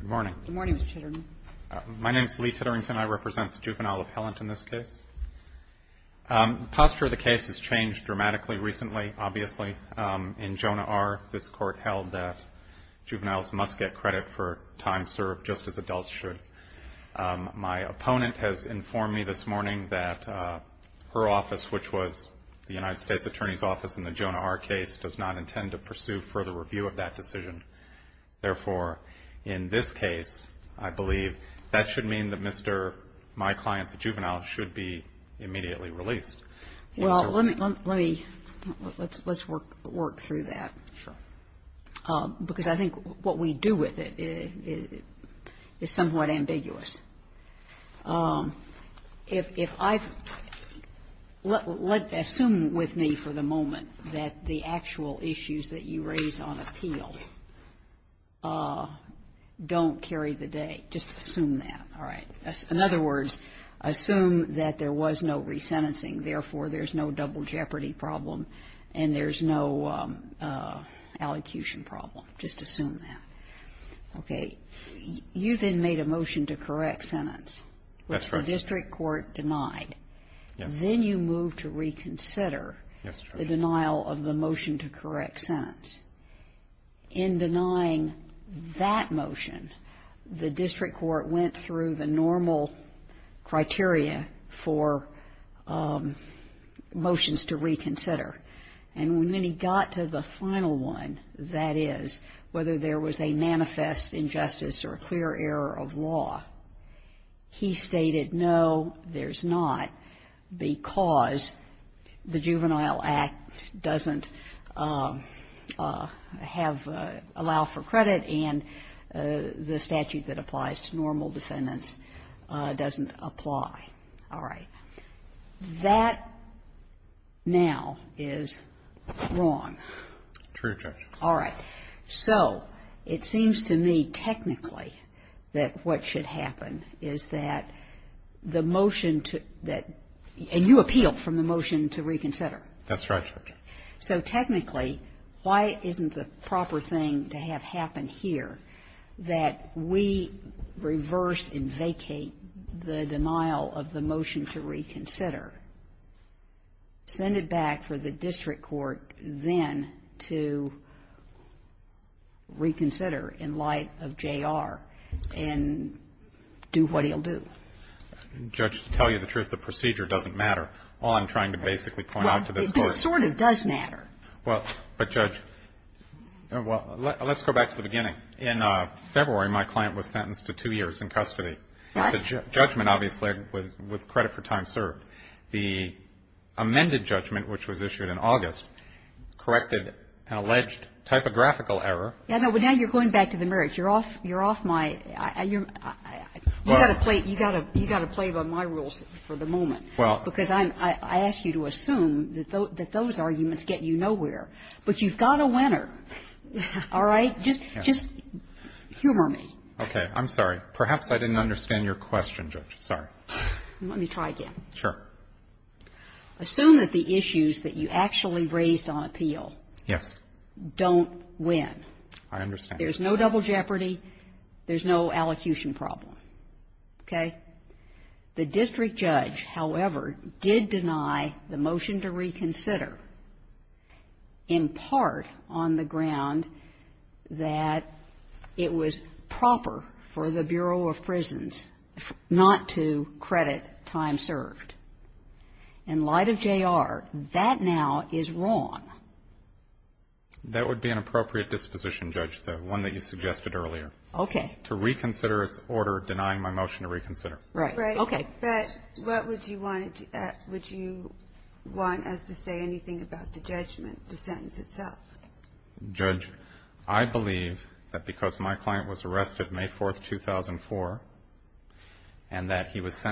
Good morning. Good morning, Mr. Titterington. My name is Lee Titterington. I represent the Juvenile Appellant in this case. The posture of the case has changed dramatically recently, obviously. In Jonah R., this Court held that juveniles must get credit for time served just as adults should. My opponent has informed me this morning that her office, which was the United States Attorney's Office in the Jonah R. case, does not intend to pursue further review of that decision. Therefore, in this case, I believe, that should mean that Mr. My client, the juvenile, should be immediately released. Well, let me let me let's let's work work through that. Sure. Because I think what we do with it is somewhat ambiguous. If if I assume with me for the moment that the actual issues that you raise on appeal don't carry the day, just assume that. All right. In other words, assume that there was no resentencing. Therefore, there's no double jeopardy problem and there's no allocution problem. Just assume that. Okay. You then made a motion to correct sentence, which the district court denied. That's right. Yes. When you move to reconsider the denial of the motion to correct sentence, in denying that motion, the district court went through the normal criteria for motions to reconsider. And when he got to the final one, that is, whether there was a manifest injustice or a clear error of law, he stated, no, there's not, because the Juvenile Act doesn't have allow for credit and the statute that applies to normal defendants doesn't apply. All right. That now is wrong. True, Judge. All right. So it seems to me technically that what should happen is that the motion to that, and you appealed from the motion to reconsider. That's right, Judge. So technically, why isn't the proper thing to have happen here that we reverse and vacate the denial of the motion to reconsider, send it back for the district court then to review and reconsider in light of J.R. and do what he'll do? Judge, to tell you the truth, the procedure doesn't matter. All I'm trying to basically point out to this Court is that it does matter. Well, but, Judge, well, let's go back to the beginning. In February, my client was sentenced to two years in custody. The judgment, obviously, was credit for time served. The amended judgment, which was issued in August, corrected an alleged typographical error. Yeah, but now you're going back to the merits. You're off my – you've got to play by my rules for the moment because I ask you to assume that those arguments get you nowhere, but you've got a winner. All right? Just humor me. Okay. I'm sorry. Perhaps I didn't understand your question, Judge. Sorry. Let me try again. Sure. Assume that the issues that you actually raised on appeal don't win. I understand. There's no double jeopardy. There's no allocution problem. Okay? The district judge, however, did deny the motion to reconsider in part on the ground that it was proper for the Bureau of Prisons not to credit time served. In light of J.R., that now is wrong. That would be an appropriate disposition, Judge, the one that you suggested earlier. Okay. To reconsider its order denying my motion to reconsider. Right. Right. Okay. But what would you want us to say anything about the judgment, the sentence itself? Judge, I believe that because my client was arrested May 4, 2004, and that he was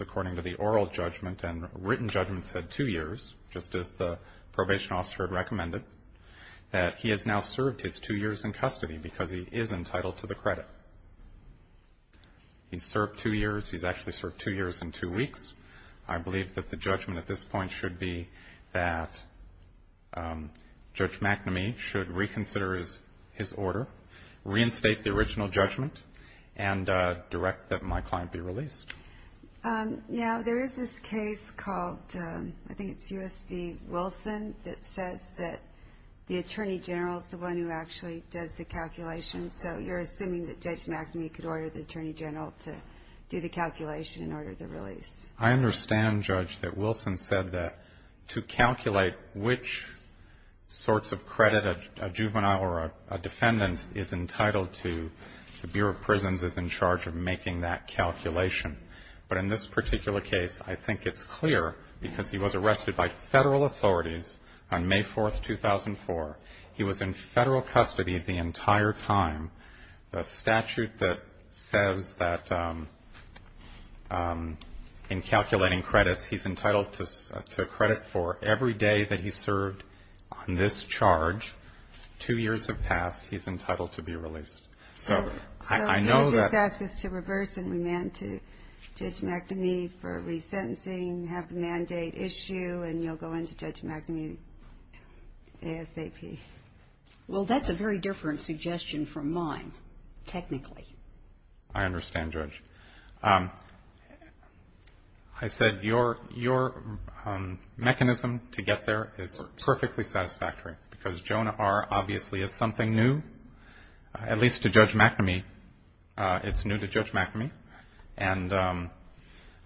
according to the oral judgment and written judgment said two years, just as the probation officer had recommended, that he has now served his two years in custody because he is entitled to the credit. He's served two years. He's actually served two years and two weeks. I believe that the judgment at this point should be that Judge McNamee should reconsider his order, reinstate the original judgment, and direct that my client be released. Yeah. There is this case called, I think it's U.S.B. Wilson, that says that the Attorney General is the one who actually does the calculation. So you're assuming that Judge McNamee could order the Attorney General to do the calculation in order to release. I understand, Judge, that Wilson said that to calculate which sorts of credit a juvenile or a defendant is entitled to, the Bureau of Prisons is in charge of calculating. But in this particular case, I think it's clear because he was arrested by Federal authorities on May 4, 2004. He was in Federal custody the entire time. The statute that says that in calculating credits, he's entitled to credit for every day that he served on this charge. Two years have passed. He's entitled to be released. So he'll just ask us to reverse and remand to Judge McNamee for resentencing, have the mandate issue, and you'll go into Judge McNamee ASAP. Well, that's a very different suggestion from mine, technically. I understand, Judge. I said your mechanism to get there is perfectly satisfactory because Jonah R. obviously is something new, at least to Judge McNamee. It's new to Judge McNamee. And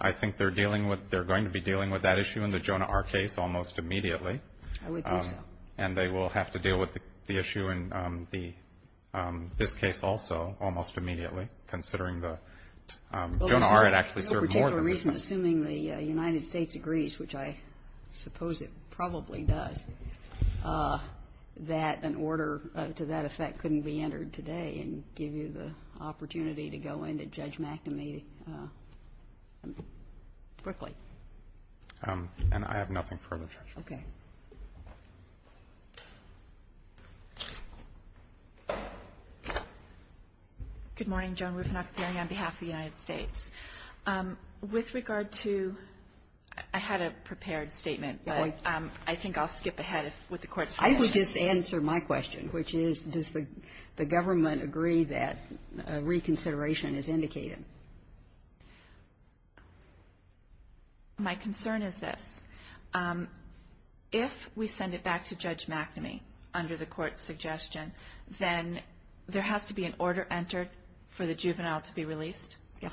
I think they're dealing with they're going to be dealing with that issue in the Jonah R. case almost immediately. I would think so. And they will have to deal with the issue in this case also almost immediately considering that Jonah R. had actually served more than this. No particular reason, assuming the United States agrees, which I suppose it probably does, that an order to that effect couldn't be entered today and give you the opportunity to go into Judge McNamee quickly. And I have nothing further, Judge. Okay. Good morning. Joan Rufinacchione on behalf of the United States. With regard to I had a prepared statement, but I think I'll skip ahead with the court's question. I would just answer my question, which is does the government agree that reconsideration is indicated? My concern is this. If we send it back to Judge McNamee under the court's suggestion, then there has to be an order entered for the juvenile to be released. Yeah.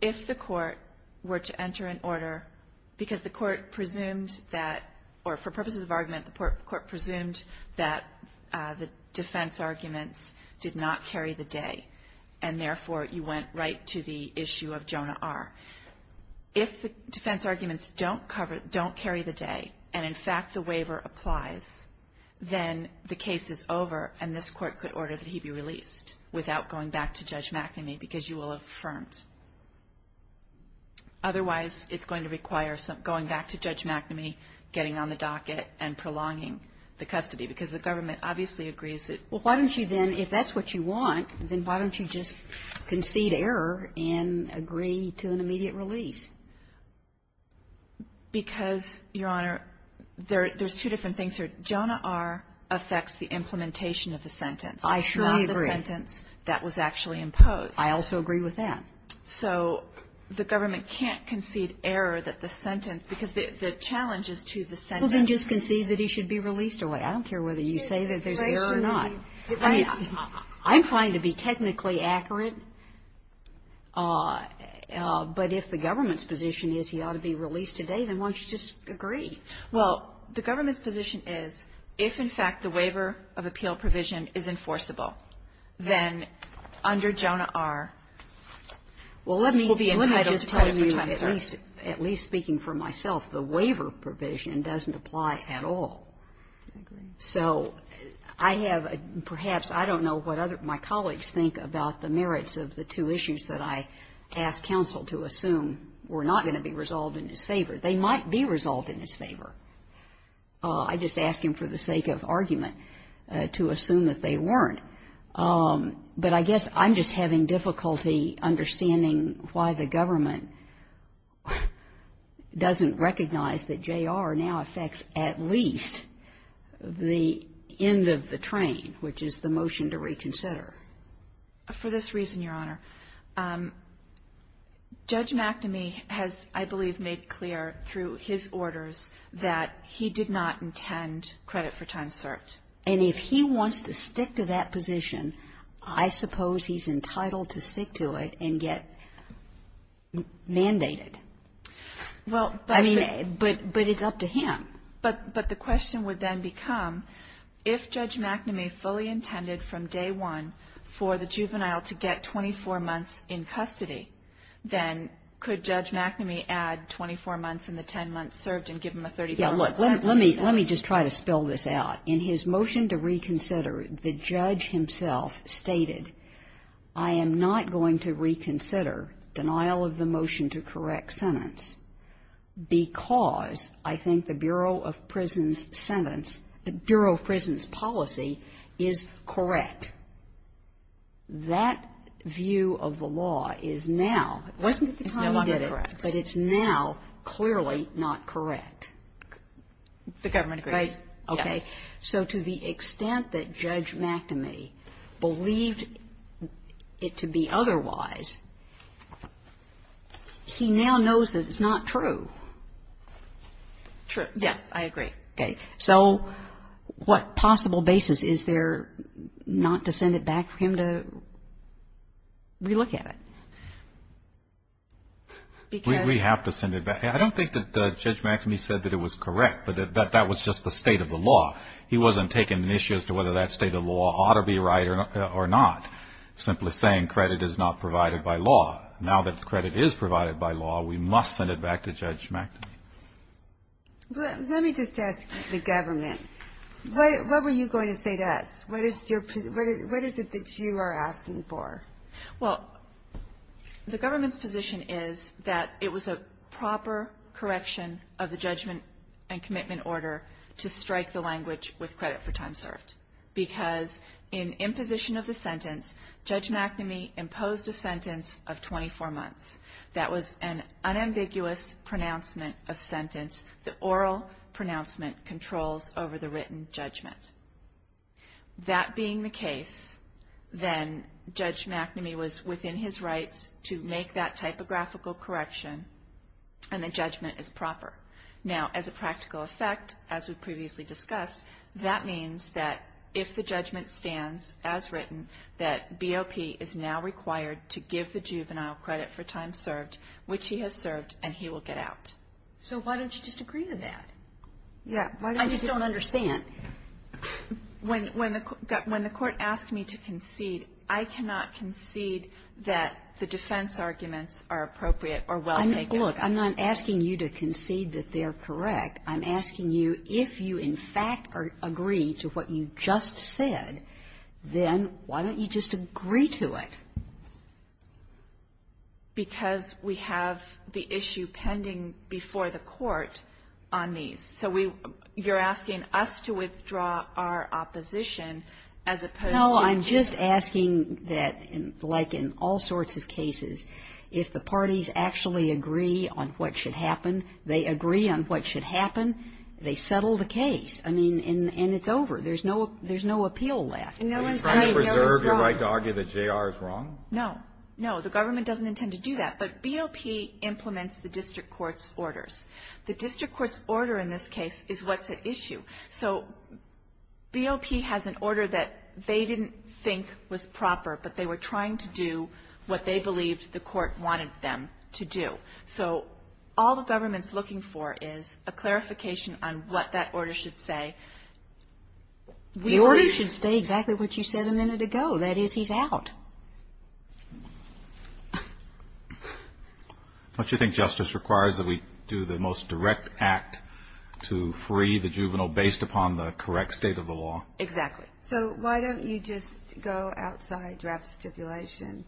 If the court were to enter an order, because the court presumed that, or for purposes of argument, the court presumed that the defense arguments did not carry the day, and therefore you went right to the issue of Jonah R. If the defense arguments don't carry the day and, in fact, the waiver applies, then the case is over and this court could order that he be released without going back to Judge McNamee because you will have affirmed. Otherwise, it's going to require going back to Judge McNamee, getting on the docket, and prolonging the custody because the government obviously agrees that Well, why don't you then, if that's what you want, then why don't you just concede error and agree to an immediate release? Because, Your Honor, there's two different things here. Jonah R. affects the implementation of the sentence. I surely agree. That was actually imposed. I also agree with that. So the government can't concede error that the sentence, because the challenge is to the sentence. Well, then just concede that he should be released away. I don't care whether you say that there's error or not. I'm trying to be technically accurate, but if the government's position is he ought to be released today, then why don't you just agree? Well, the government's position is if, in fact, the waiver of appeal provision is enforceable, then under Jonah R. Well, let me just tell you, at least speaking for myself, the waiver provision doesn't apply at all. I agree. So I have, perhaps, I don't know what my colleagues think about the merits of the two issues that I asked counsel to assume were not going to be resolved in his favor. They might be resolved in his favor. I just ask him for the sake of argument to assume that they weren't. But I guess I'm just having difficulty understanding why the government doesn't recognize that J.R. now affects at least the end of the train, which is the motion to reconsider. For this reason, Your Honor, Judge McNamee has, I believe, made clear through his orders that he did not intend credit for time served. And if he wants to stick to that position, I suppose he's entitled to stick to it and get mandated. Well, but the question would then become, if Judge McNamee fully intended from day one for the juvenile to get 24 months in custody, then could Judge McNamee add 24 months and the 10 months served and give him a 35-month sentence? Let me just try to spell this out. In his motion to reconsider, the judge himself stated, I am not going to reconsider denial of the motion to correct sentence because I think the Bureau of Prisons sentence, the Bureau of Prisons policy is correct. That view of the law is now, wasn't at the time he did it. But it's now clearly not correct. The government agrees. Okay. So to the extent that Judge McNamee believed it to be otherwise, he now knows that it's not true. True. Yes, I agree. Okay. So what possible basis is there not to send it back for him to relook at it? We have to send it back. I don't think that Judge McNamee said that it was correct, but that was just the state of the law. He wasn't taking an issue as to whether that state of law ought to be right or not. Simply saying credit is not provided by law. Now that credit is provided by law, we must send it back to Judge McNamee. Let me just ask the government. What were you going to say to us? What is it that you are asking for? Well, the government's position is that it was a proper correction of the judgment and commitment order to strike the language with credit for time served. Because in imposition of the sentence, Judge McNamee imposed a sentence of 24 months. That was an unambiguous pronouncement of sentence. The oral pronouncement controls over the written judgment. That being the case, then Judge McNamee was within his rights to make that typographical correction, and the judgment is proper. Now, as a practical effect, as we previously discussed, that means that if the judgment stands as written, that BOP is now required to give the juvenile credit for time served, which he has served, and he will get out. So why don't you just agree to that? Yeah. Why don't you just agree to that? I just don't understand. When the Court asked me to concede, I cannot concede that the defense arguments are appropriate or well taken. Look, I'm not asking you to concede that they are correct. I'm asking you if you, in fact, agree to what you just said, then why don't you just agree to it? Because we have the issue pending before the Court on these. So we — you're asking us to withdraw our opposition as opposed to — No. I'm just asking that, like in all sorts of cases, if the parties actually agree on what should happen, they agree on what should happen, they settle the case. I mean, and it's over. There's no — there's no appeal left. No one's — Are you trying to preserve your right to argue that J.R. is wrong? No. No. The government doesn't intend to do that. But BOP implements the district court's orders. The district court's order in this case is what's at issue. So BOP has an order that they didn't think was proper, but they were trying to do what they believed the court wanted them to do. So all the government's looking for is a clarification on what that order should say. The order should stay exactly what you said a minute ago. That is, he's out. Don't you think justice requires that we do the most direct act to free the juvenile based upon the correct state of the law? Exactly. So why don't you just go outside draft stipulation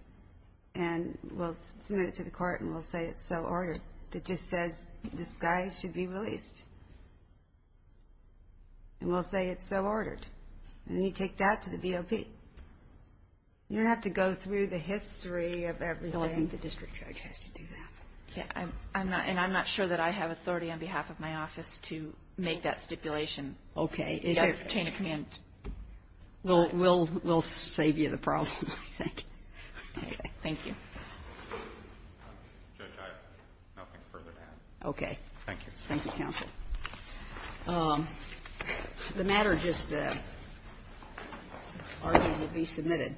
and we'll submit it to the court and we'll say it's so ordered. It just says this guy should be released. And we'll say it's so ordered. And then you take that to the BOP. You don't have to go through the history of everything. No, I think the district judge has to do that. And I'm not sure that I have authority on behalf of my office to make that stipulation. Okay. To obtain a commitment. We'll save you the problem, I think. Okay. Thank you. Judge, I have nothing further to add. Okay. Thank you. Thank you, counsel. The matter just argued to be submitted.